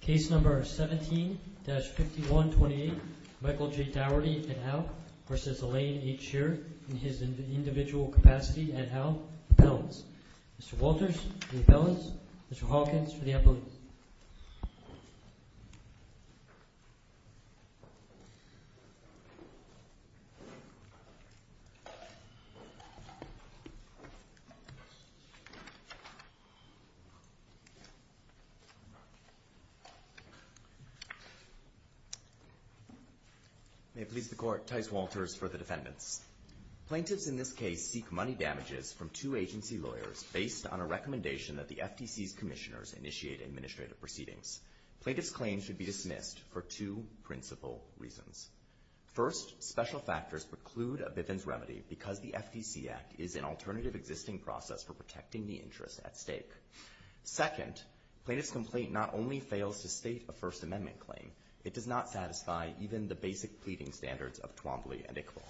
Case number 17-5128 Michael J. Daugherty et al. v. Alain H. Sheer in his individual capacity et al., repellents. Mr. Walters for the repellents, Mr. Hawkins for the appellate. May it please the Court, Tice Walters for the defendants. Plaintiffs in this case seek money damages from two agency lawyers based on a recommendation that the FTC's commissioners initiate administrative proceedings. Plaintiffs' claim should be dismissed for two principal reasons. First, special factors preclude a Bivens remedy because the FTC Act is an alternative existing process for protecting the interest at stake. Second, plaintiff's complaint not only fails to state a First Amendment claim, it does not satisfy even the basic pleading standards of Twombly and Iqbal.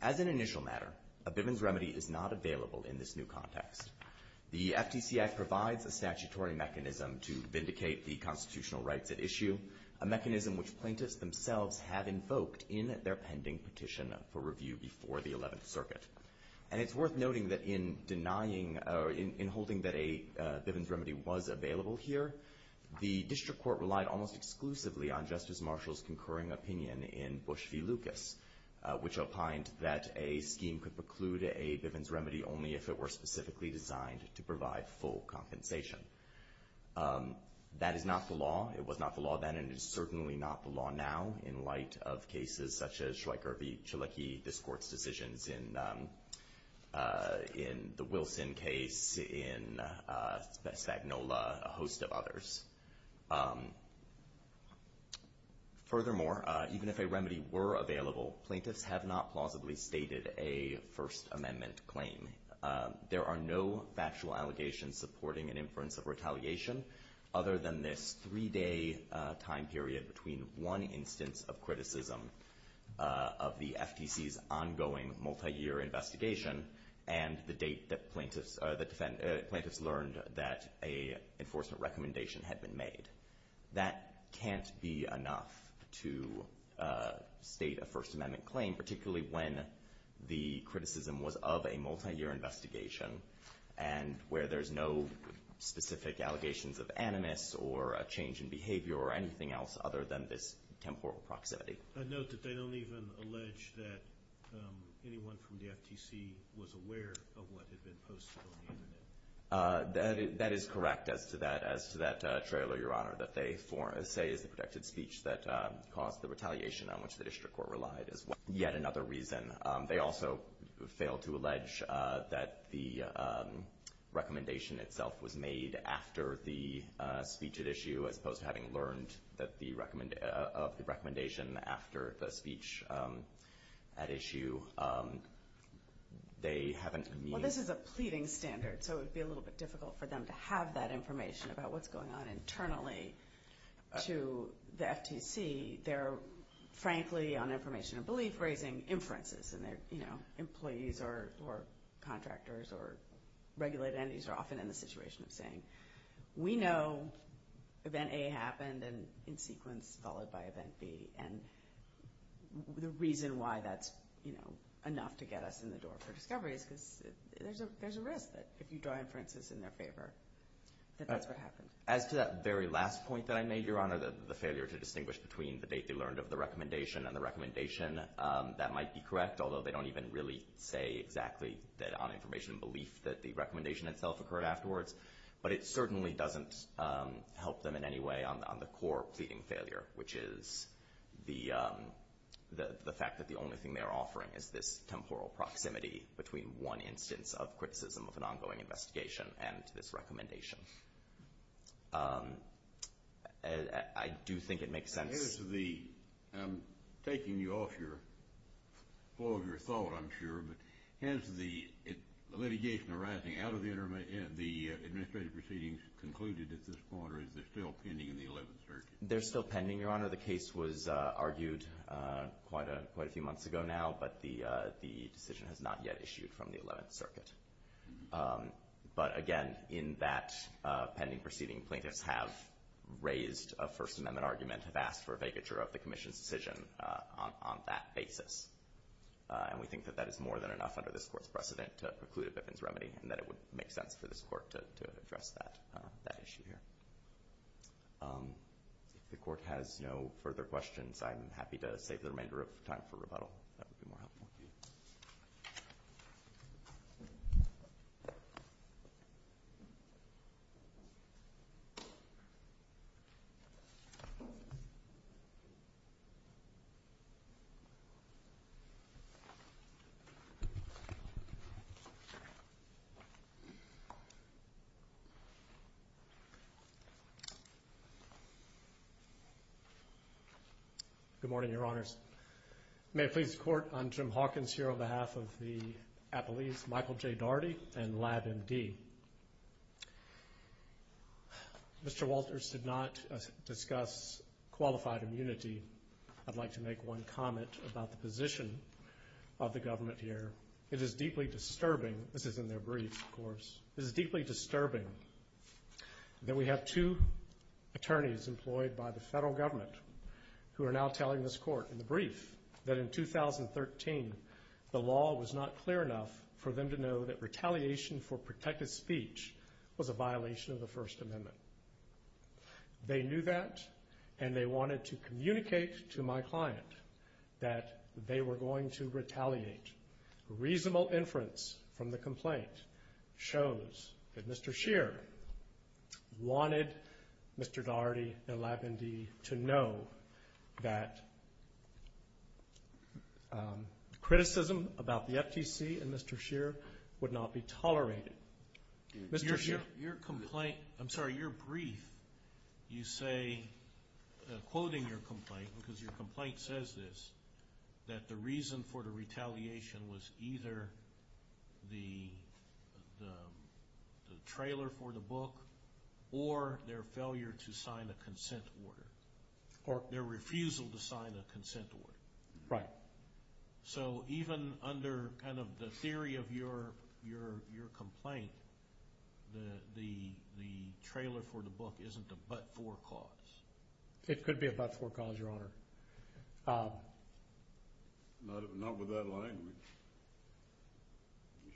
As an initial matter, a Bivens remedy is not available in this new context. The FTC Act provides a statutory mechanism to vindicate the constitutional rights at issue, a mechanism which plaintiffs themselves have invoked in their pending petition for review before the Eleventh Circuit. And it's worth noting that in denying or in holding that a Bivens remedy was available here, the district court relied almost exclusively on Justice Marshall's concurring opinion in Bush v. Lucas, which opined that a scheme could preclude a Bivens remedy only if it were specifically designed to provide full compensation. That is not the law. It was not the law then, and it is certainly not the law now, in light of cases such as Schweiker v. Chileki, this court's decisions in the Wilson case, in Spagnola, a host of others. Furthermore, even if a remedy were available, plaintiffs have not plausibly stated a First Amendment claim. There are no factual allegations supporting an inference of retaliation, other than this three-day time period between one instance of criticism of the FTC's ongoing multi-year investigation and the date that plaintiffs learned that an enforcement recommendation had been made. That can't be enough to state a First Amendment claim, particularly when the criticism was of a multi-year investigation and where there's no specific allegations of animus or a change in behavior or anything else other than this temporal proximity. I note that they don't even allege that anyone from the FTC was aware of what had been posted on the Internet. That is correct as to that trailer, Your Honor, that they say is the protected speech that caused the retaliation on which the district court relied is yet another reason. They also fail to allege that the recommendation itself was made after the speech at issue, as opposed to having learned of the recommendation after the speech at issue. They haven't— Well, this is a pleading standard, so it would be a little bit difficult for them to have that information about what's going on internally to the FTC. They're, frankly, on information and belief raising inferences, and their employees or contractors or regulated entities are often in the situation of saying, We know event A happened in sequence followed by event B, and the reason why that's enough to get us in the door for discovery is because there's a risk that if you draw inferences in their favor that that's what happened. As to that very last point that I made, Your Honor, the failure to distinguish between the date they learned of the recommendation and the recommendation, that might be correct, although they don't even really say exactly that on information and belief that the recommendation itself occurred afterwards. But it certainly doesn't help them in any way on the core pleading failure, which is the fact that the only thing they're offering is this temporal proximity between one instance of criticism of an ongoing investigation and this recommendation. I do think it makes sense. I'm taking you off your flow of your thought, I'm sure, but has the litigation arising out of the administrative proceedings concluded at this point, or is there still pending in the Eleventh Circuit? There's still pending, Your Honor. The case was argued quite a few months ago now, but the decision has not yet issued from the Eleventh Circuit. But, again, in that pending proceeding, plaintiffs have raised a First Amendment argument, have asked for a vacature of the Commission's decision on that basis. And we think that that is more than enough under this Court's precedent to preclude a Bivens remedy and that it would make sense for this Court to address that issue here. If the Court has no further questions, I'm happy to save the remainder of time for rebuttal. That would be more helpful. Thank you. Good morning, Your Honors. May it please the Court, I'm Jim Hawkins here on behalf of the Appellees, Michael J. Daugherty and Lab MD. Mr. Walters did not discuss qualified immunity. I'd like to make one comment about the position of the government here. It is deeply disturbing, this is in their brief, of course, it is deeply disturbing that we have two attorneys employed by the federal government who are now telling this Court in the brief that in 2013 the law was not clear enough for them to know that retaliation for protected speech was a violation of the First Amendment. They knew that and they wanted to communicate to my client that they were going to retaliate. Reasonable inference from the complaint shows that Mr. Scheer wanted Mr. Daugherty and Lab MD to know that criticism about the FTC and Mr. Scheer would not be tolerated. Mr. Scheer, your brief, you say, quoting your complaint, because your complaint says this, that the reason for the retaliation was either the trailer for the book or their failure to sign a consent order or their refusal to sign a consent order. Right. So even under kind of the theory of your complaint, the trailer for the book isn't a but-for cause? It could be a but-for cause, Your Honor. Not with that language.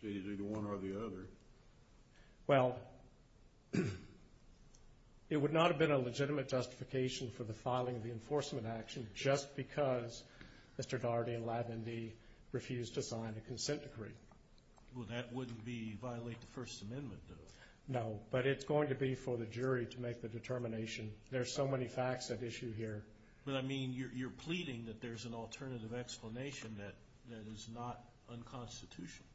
You say it's either one or the other. Well, it would not have been a legitimate justification for the filing of the enforcement action just because Mr. Daugherty and Lab MD refused to sign a consent decree. Well, that wouldn't violate the First Amendment, though. No, but it's going to be for the jury to make the determination. There are so many facts at issue here. But, I mean, you're pleading that there's an alternative explanation that is not unconstitutional.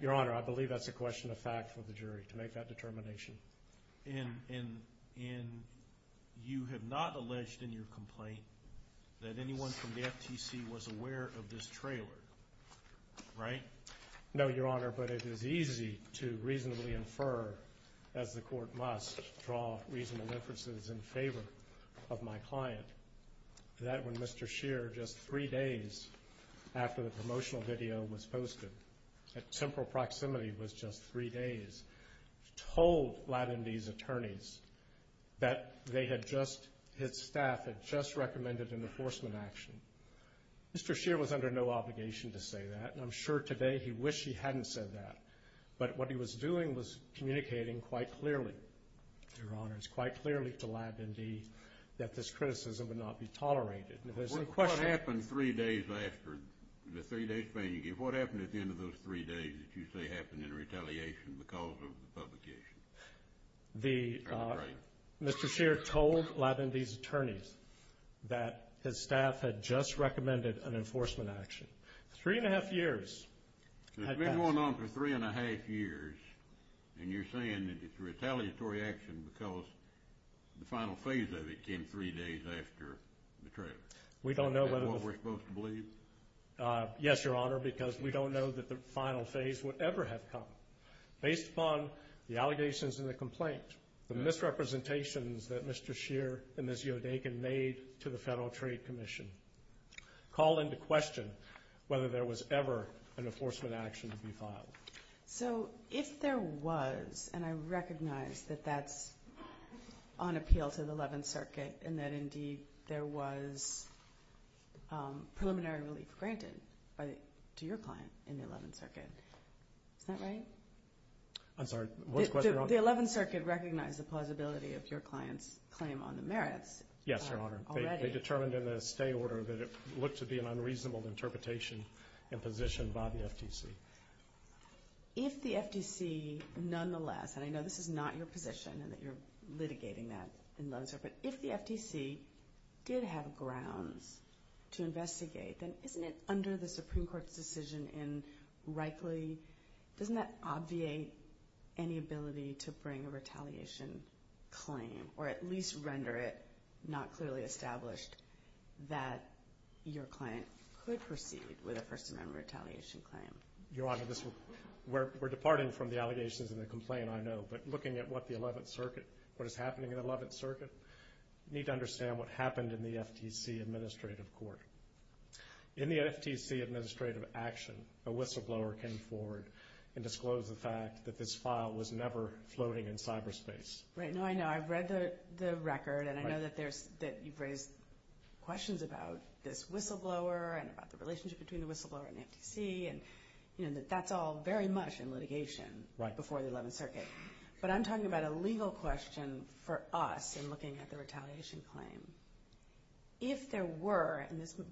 Your Honor, I believe that's a question of fact for the jury to make that determination. And you have not alleged in your complaint that anyone from the FTC was aware of this trailer, right? No, Your Honor, but it is easy to reasonably infer, as the court must draw reasonable inferences in favor of my client, that when Mr. Scheer, just three days after the promotional video was posted, at temporal proximity was just three days, told Lab MD's attorneys that they had just, his staff had just recommended an enforcement action. Mr. Scheer was under no obligation to say that, and I'm sure today he wish he hadn't said that. But what he was doing was communicating quite clearly, Your Honor, it's quite clearly to Lab MD that this criticism would not be tolerated. What happened three days after the three-day spanking? What happened at the end of those three days that you say happened in retaliation because of the publication? Mr. Scheer told Lab MD's attorneys that his staff had just recommended an enforcement action. Three and a half years. It's been going on for three and a half years, and you're saying that it's a retaliatory action because the final phase of it came three days after the trailer. Is that what we're supposed to believe? Yes, Your Honor, because we don't know that the final phase would ever have come. Based upon the allegations in the complaint, the misrepresentations that Mr. Scheer and Ms. Yodakin made to the Federal Trade Commission, call into question whether there was ever an enforcement action to be filed. So if there was, and I recognize that that's on appeal to the Eleventh Circuit and that indeed there was preliminary relief granted to your client in the Eleventh Circuit, is that right? I'm sorry, what's the question, Your Honor? The Eleventh Circuit recognized the plausibility of your client's claim on the merits. Yes, Your Honor. Already? They determined in the stay order that it looked to be an unreasonable interpretation and position by the FTC. If the FTC nonetheless, and I know this is not your position and that you're litigating that, but if the FTC did have grounds to investigate, then isn't it under the Supreme Court's decision and rightly, doesn't that obviate any ability to bring a retaliation claim or at least render it not clearly established that your client could proceed with a First Amendment retaliation claim? Your Honor, we're departing from the allegations in the complaint, I know, but looking at what the Eleventh Circuit, what is happening in the Eleventh Circuit, you need to understand what happened in the FTC administrative court. In the FTC administrative action, a whistleblower came forward and disclosed the fact that this file was never floating in cyberspace. Right, no, I know. I've read the record and I know that you've raised questions about this whistleblower and about the relationship between the whistleblower and the FTC and that that's all very much in litigation before the Eleventh Circuit. But I'm talking about a legal question for us in looking at the retaliation claim. If there were, and this would,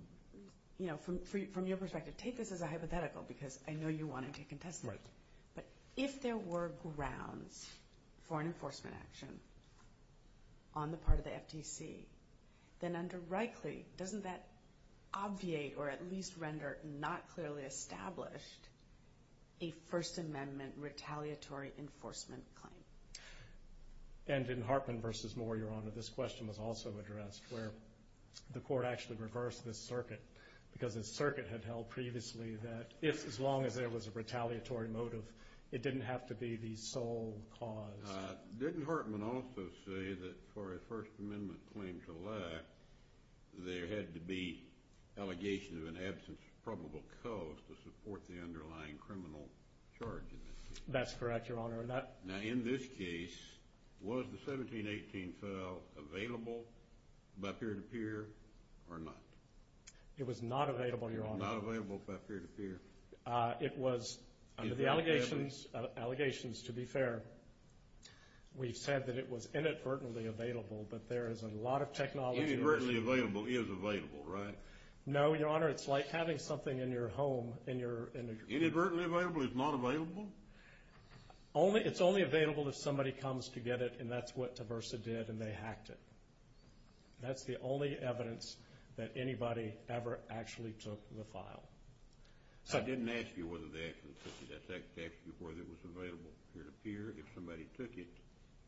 you know, from your perspective, take this as a hypothetical because I know you want to take a test. But if there were grounds for an enforcement action on the part of the FTC, then under rightly, doesn't that obviate or at least render not clearly established a First Amendment retaliatory enforcement claim? And in Hartman v. Moore, Your Honor, this question was also addressed where the court actually reversed this circuit because this circuit had held previously that as long as there was a retaliatory motive, it didn't have to be the sole cause. Didn't Hartman also say that for a First Amendment claim to lack, there had to be allegation of an absence of probable cause to support the underlying criminal charge in this case? That's correct, Your Honor. Now, in this case, was the 1718 file available by peer-to-peer or not? It was not available, Your Honor. It was not available by peer-to-peer. It was under the allegations, to be fair. We've said that it was inadvertently available, but there is a lot of technology. Inadvertently available is available, right? No, Your Honor, it's like having something in your home. Inadvertently available is not available? It's only available if somebody comes to get it, and that's what Tversa did, and they hacked it. That's the only evidence that anybody ever actually took the file. I didn't ask you whether they actually took it. I asked you whether it was available peer-to-peer. If somebody took it,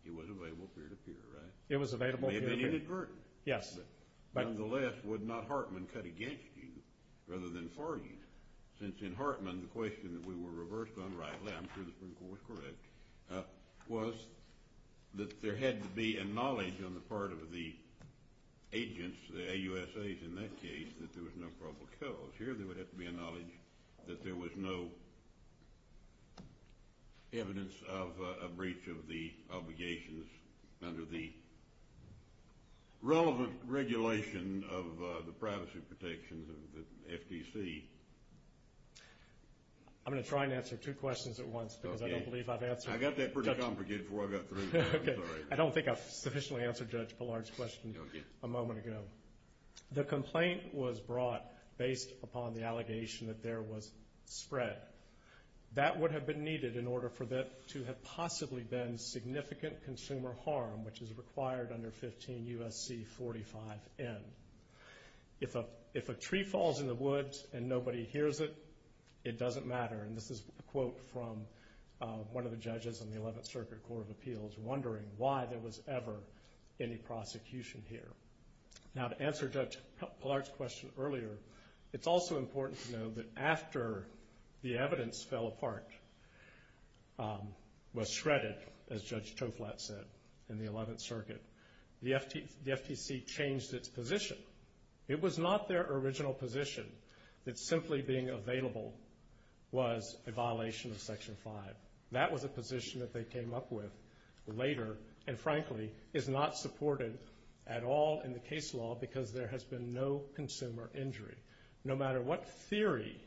it was available peer-to-peer, right? It was available peer-to-peer. It may have been inadvertently. Yes. Nonetheless, would not Hartman cut against you rather than for you? Since in Hartman the question that we were reversed unrightly, I'm sure that was correct, was that there had to be a knowledge on the part of the agents, the AUSAs in that case, that there was no probable cause. Here there would have to be a knowledge that there was no evidence of a breach of the obligations under the relevant regulation of the privacy protections of the FTC. I'm going to try and answer two questions at once because I don't believe I've answered. I got that pretty complicated before I got through. Okay. I don't think I've sufficiently answered Judge Pollard's question a moment ago. The complaint was brought based upon the allegation that there was spread. That would have been needed in order for there to have possibly been significant consumer harm, which is required under 15 U.S.C. 45N. If a tree falls in the woods and nobody hears it, it doesn't matter. And this is a quote from one of the judges in the 11th Circuit Court of Appeals wondering why there was ever any prosecution here. Now to answer Judge Pollard's question earlier, it's also important to know that after the evidence fell apart, was shredded, as Judge Toflat said in the 11th Circuit, the FTC changed its position. It was not their original position that simply being available was a violation of Section 5. That was a position that they came up with later and, frankly, is not supported at all in the case law because there has been no consumer injury. No matter what theory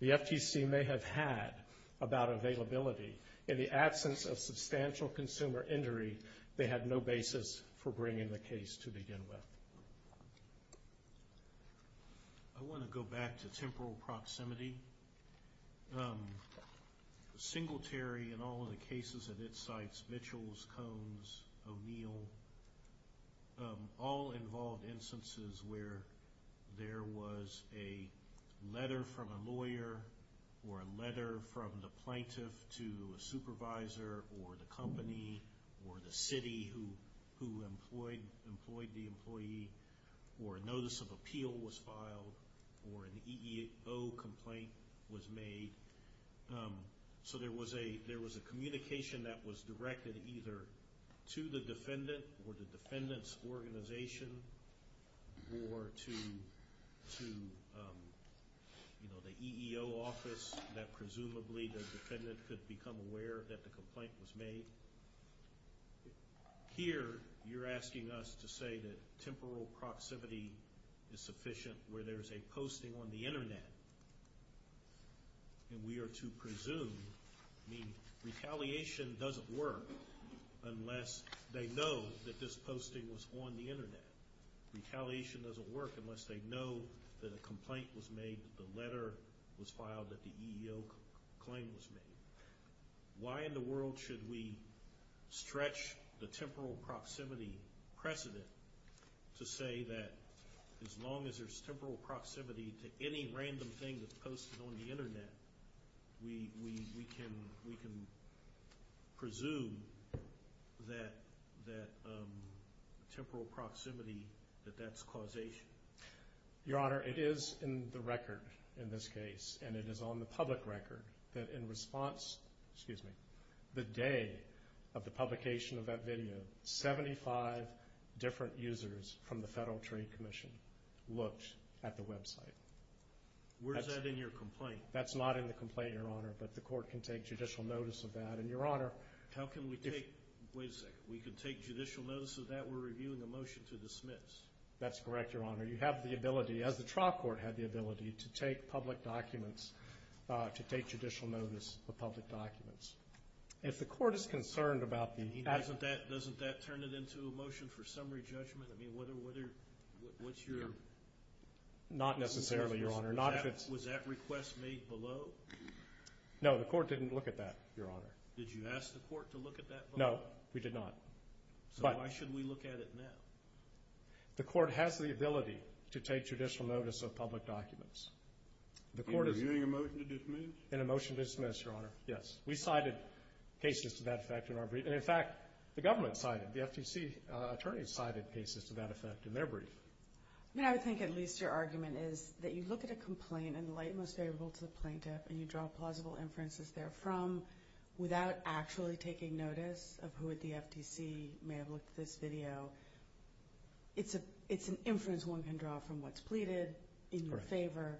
the FTC may have had about availability, in the absence of substantial consumer injury, they had no basis for bringing the case to begin with. I want to go back to temporal proximity. Singletary in all of the cases that it cites, Mitchells, Combs, O'Neill, all involved instances where there was a letter from a lawyer or a letter from the plaintiff to a supervisor or the company or the city who employed the employee or a notice of appeal was filed or an EEO complaint was made. So there was a communication that was directed either to the defendant or the defendant's organization or to the EEO office that presumably the defendant could become aware that the complaint was made. Here, you're asking us to say that temporal proximity is sufficient where there is a posting on the Internet and we are to presume, I mean, retaliation doesn't work unless they know that this posting was on the Internet. Retaliation doesn't work unless they know that a complaint was made, that the letter was filed, that the EEO claim was made. Why in the world should we stretch the temporal proximity precedent to say that as long as there's temporal proximity to any random thing that's posted on the Internet, we can presume that temporal proximity, that that's causation? Your Honor, it is in the record in this case and it is on the public record that in response, excuse me, the day of the publication of that video, 75 different users from the Federal Trade Commission looked at the website. Where's that in your complaint? That's not in the complaint, Your Honor, but the court can take judicial notice of that. And Your Honor, how can we take, wait a second, we can take judicial notice of that? We're reviewing a motion to dismiss. That's correct, Your Honor. You have the ability, as the trial court had the ability, to take public documents, to take judicial notice of public documents. And if the court is concerned about the… Doesn't that turn it into a motion for summary judgment? I mean, what's your… Not necessarily, Your Honor. Was that request made below? No, the court didn't look at that, Your Honor. Did you ask the court to look at that below? No, we did not. So why should we look at it now? The court has the ability to take judicial notice of public documents. We're reviewing a motion to dismiss? And a motion to dismiss, Your Honor, yes. We cited cases to that effect in our brief. And, in fact, the government cited, the FTC attorneys cited cases to that effect in their brief. I mean, I would think at least your argument is that you look at a complaint and lay it most favorable to the plaintiff and you draw plausible inferences therefrom without actually taking notice of who at the FTC may have looked at this video It's an inference one can draw from what's pleaded in your favor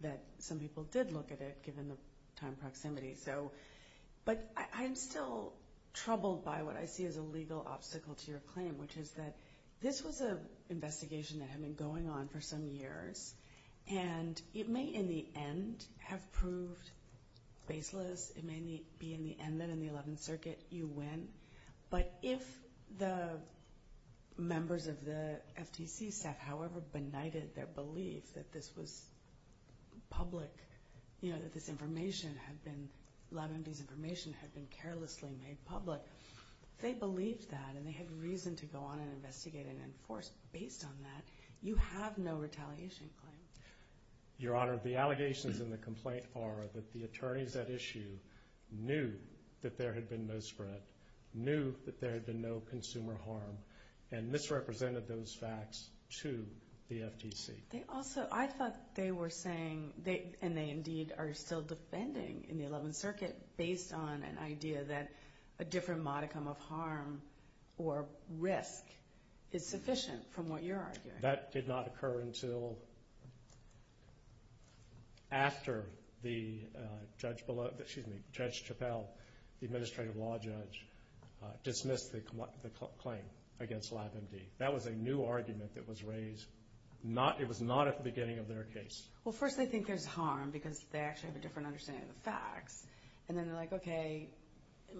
that some people did look at it, given the time proximity. But I'm still troubled by what I see as a legal obstacle to your claim, which is that this was an investigation that had been going on for some years and it may, in the end, have proved baseless. It may be, in the end, that in the Eleventh Circuit, you win. But if the members of the FTC staff, however benighted their belief that this was public, you know, that this information had been, LabMD's information had been carelessly made public, if they believed that and they had reason to go on and investigate and enforce based on that, you have no retaliation claim. Your Honor, the allegations in the complaint are that the attorneys at issue knew that there had been no spread, knew that there had been no consumer harm, and misrepresented those facts to the FTC. They also, I thought they were saying, and they indeed are still defending in the Eleventh Circuit, based on an idea that a different modicum of harm or risk is sufficient from what you're arguing. That did not occur until after the judge below, excuse me, Judge Chappelle, the administrative law judge, dismissed the claim against LabMD. That was a new argument that was raised. It was not at the beginning of their case. Well, first they think there's harm because they actually have a different understanding of the facts. And then they're like, okay,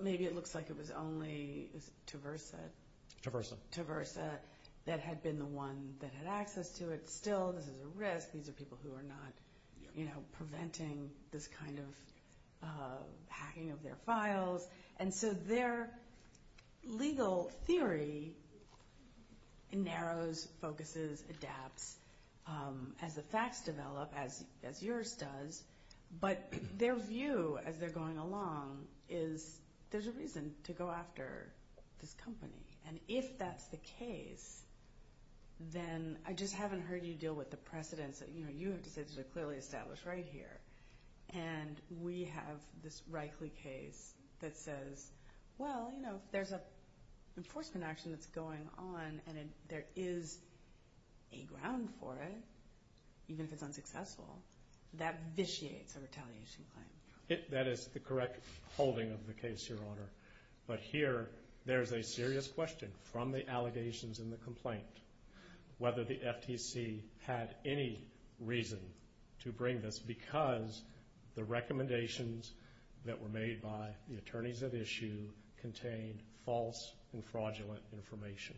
maybe it looks like it was only Tversa. Tversa. Tversa that had been the one that had access to it. Still, this is a risk. These are people who are not preventing this kind of hacking of their files. And so their legal theory narrows, focuses, adapts as the facts develop, as yours does. But their view as they're going along is there's a reason to go after this company. And if that's the case, then I just haven't heard you deal with the precedents. You have to say this is clearly established right here. And we have this Reichle case that says, well, you know, there's an enforcement action that's going on and there is a ground for it, even if it's unsuccessful. That vitiates a retaliation claim. That is the correct holding of the case, Your Honor. But here there's a serious question from the allegations in the complaint, whether the FTC had any reason to bring this, because the recommendations that were made by the attorneys at issue contained false and fraudulent information.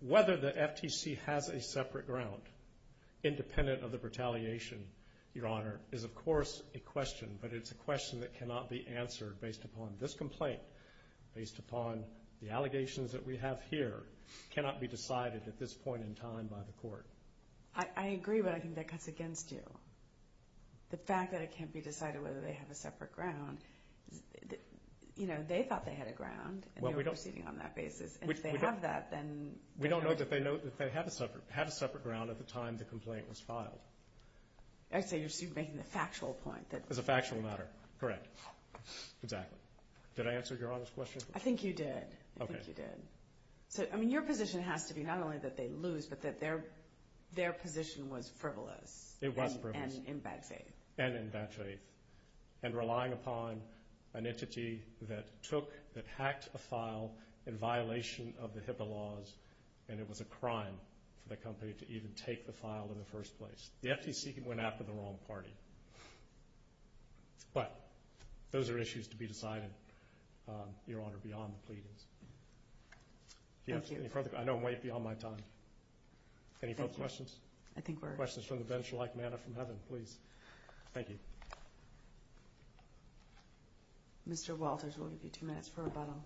Whether the FTC has a separate ground independent of the retaliation, Your Honor, is, of course, a question. But it's a question that cannot be answered based upon this complaint, based upon the allegations that we have here, cannot be decided at this point in time by the court. I agree, but I think that cuts against you. The fact that it can't be decided whether they have a separate ground, you know, they thought they had a ground and they were proceeding on that basis. And if they have that, then we don't know. I'd say you're making the factual point. It's a factual matter. Correct. Exactly. Did I answer Your Honor's question? I think you did. Okay. I think you did. So, I mean, your position has to be not only that they lose, but that their position was frivolous. It was frivolous. And in bad faith. And in bad faith. And relying upon an entity that took, that hacked a file in violation of the HIPAA laws, and it was a crime for the company to even take the file in the first place. The FTC went after the wrong party. But those are issues to be decided, Your Honor, beyond the pleadings. Thank you. I know I'm way beyond my time. Any folks questions? I think we're. Questions from the bench like manna from heaven, please. Thank you. Mr. Walters, we'll give you two minutes for rebuttal.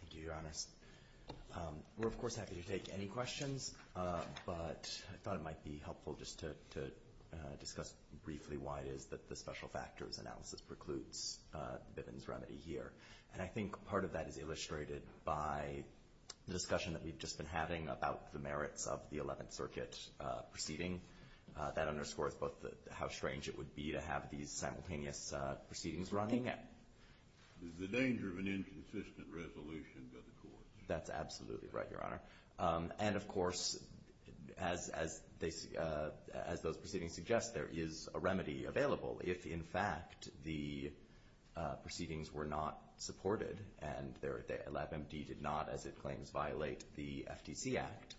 Thank you, Your Honors. We're, of course, happy to take any questions. But I thought it might be helpful just to discuss briefly why it is that the special factors analysis precludes Bivens remedy here. And I think part of that is illustrated by the discussion that we've just been having about the merits of the Eleventh Circuit proceeding. That underscores both how strange it would be to have these simultaneous proceedings running. The danger of an inconsistent resolution by the court. That's absolutely right, Your Honor. And, of course, as those proceedings suggest, there is a remedy available. If, in fact, the proceedings were not supported and LabMD did not, as it claims, violate the FTC Act,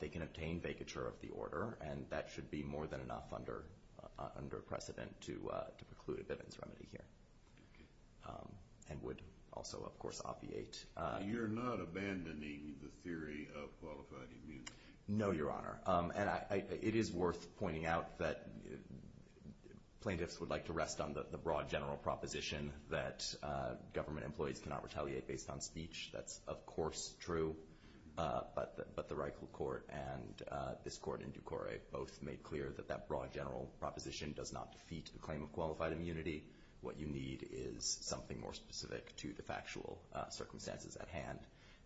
they can obtain vacature of the order. And that should be more than enough under precedent to preclude a Bivens remedy here and would also, of course, obviate. You're not abandoning the theory of qualified immunity? No, Your Honor. And it is worth pointing out that plaintiffs would like to rest on the broad general proposition that government employees cannot retaliate based on speech. That's, of course, true. But the Reichel Court and this court in du Corre both made clear that that broad general proposition does not defeat the claim of qualified immunity. What you need is something more specific to the factual circumstances at hand.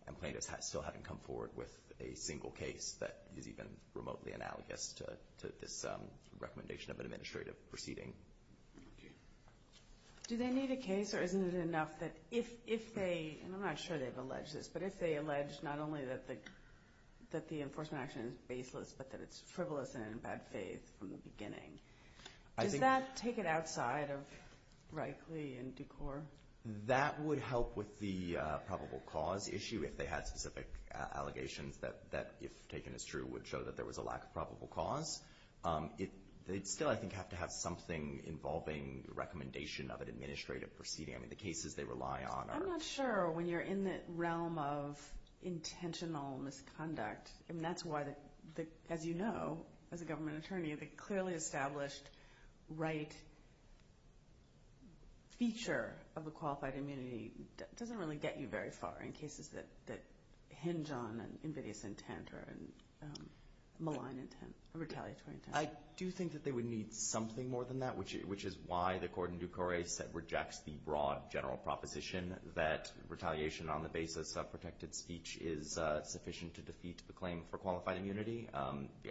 And plaintiffs still haven't come forward with a single case that is even remotely analogous to this recommendation of an administrative proceeding. Okay. Do they need a case or isn't it enough that if they, and I'm not sure they've alleged this, but if they allege not only that the enforcement action is baseless but that it's frivolous and in bad faith from the beginning, does that take it outside of Reichel and du Corre? That would help with the probable cause issue if they had specific allegations that, if taken as true, would show that there was a lack of probable cause. They'd still, I think, have to have something involving recommendation of an administrative proceeding. I mean, the cases they rely on are— I mean, that's why, as you know, as a government attorney, the clearly established right feature of a qualified immunity doesn't really get you very far in cases that hinge on an invidious intent or a malign intent, a retaliatory intent. I do think that they would need something more than that, which is why the court in du Corre rejects the broad general proposition that retaliation on the basis of protected speech is sufficient to defeat the claim for qualified immunity.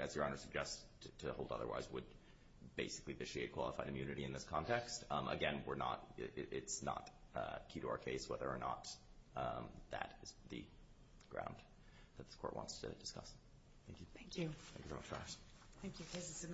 As Your Honor suggests, to hold otherwise would basically vitiate qualified immunity in this context. Again, we're not—it's not key to our case whether or not that is the ground that the court wants to discuss. Thank you. Thank you. Thank you very much, guys. Thank you.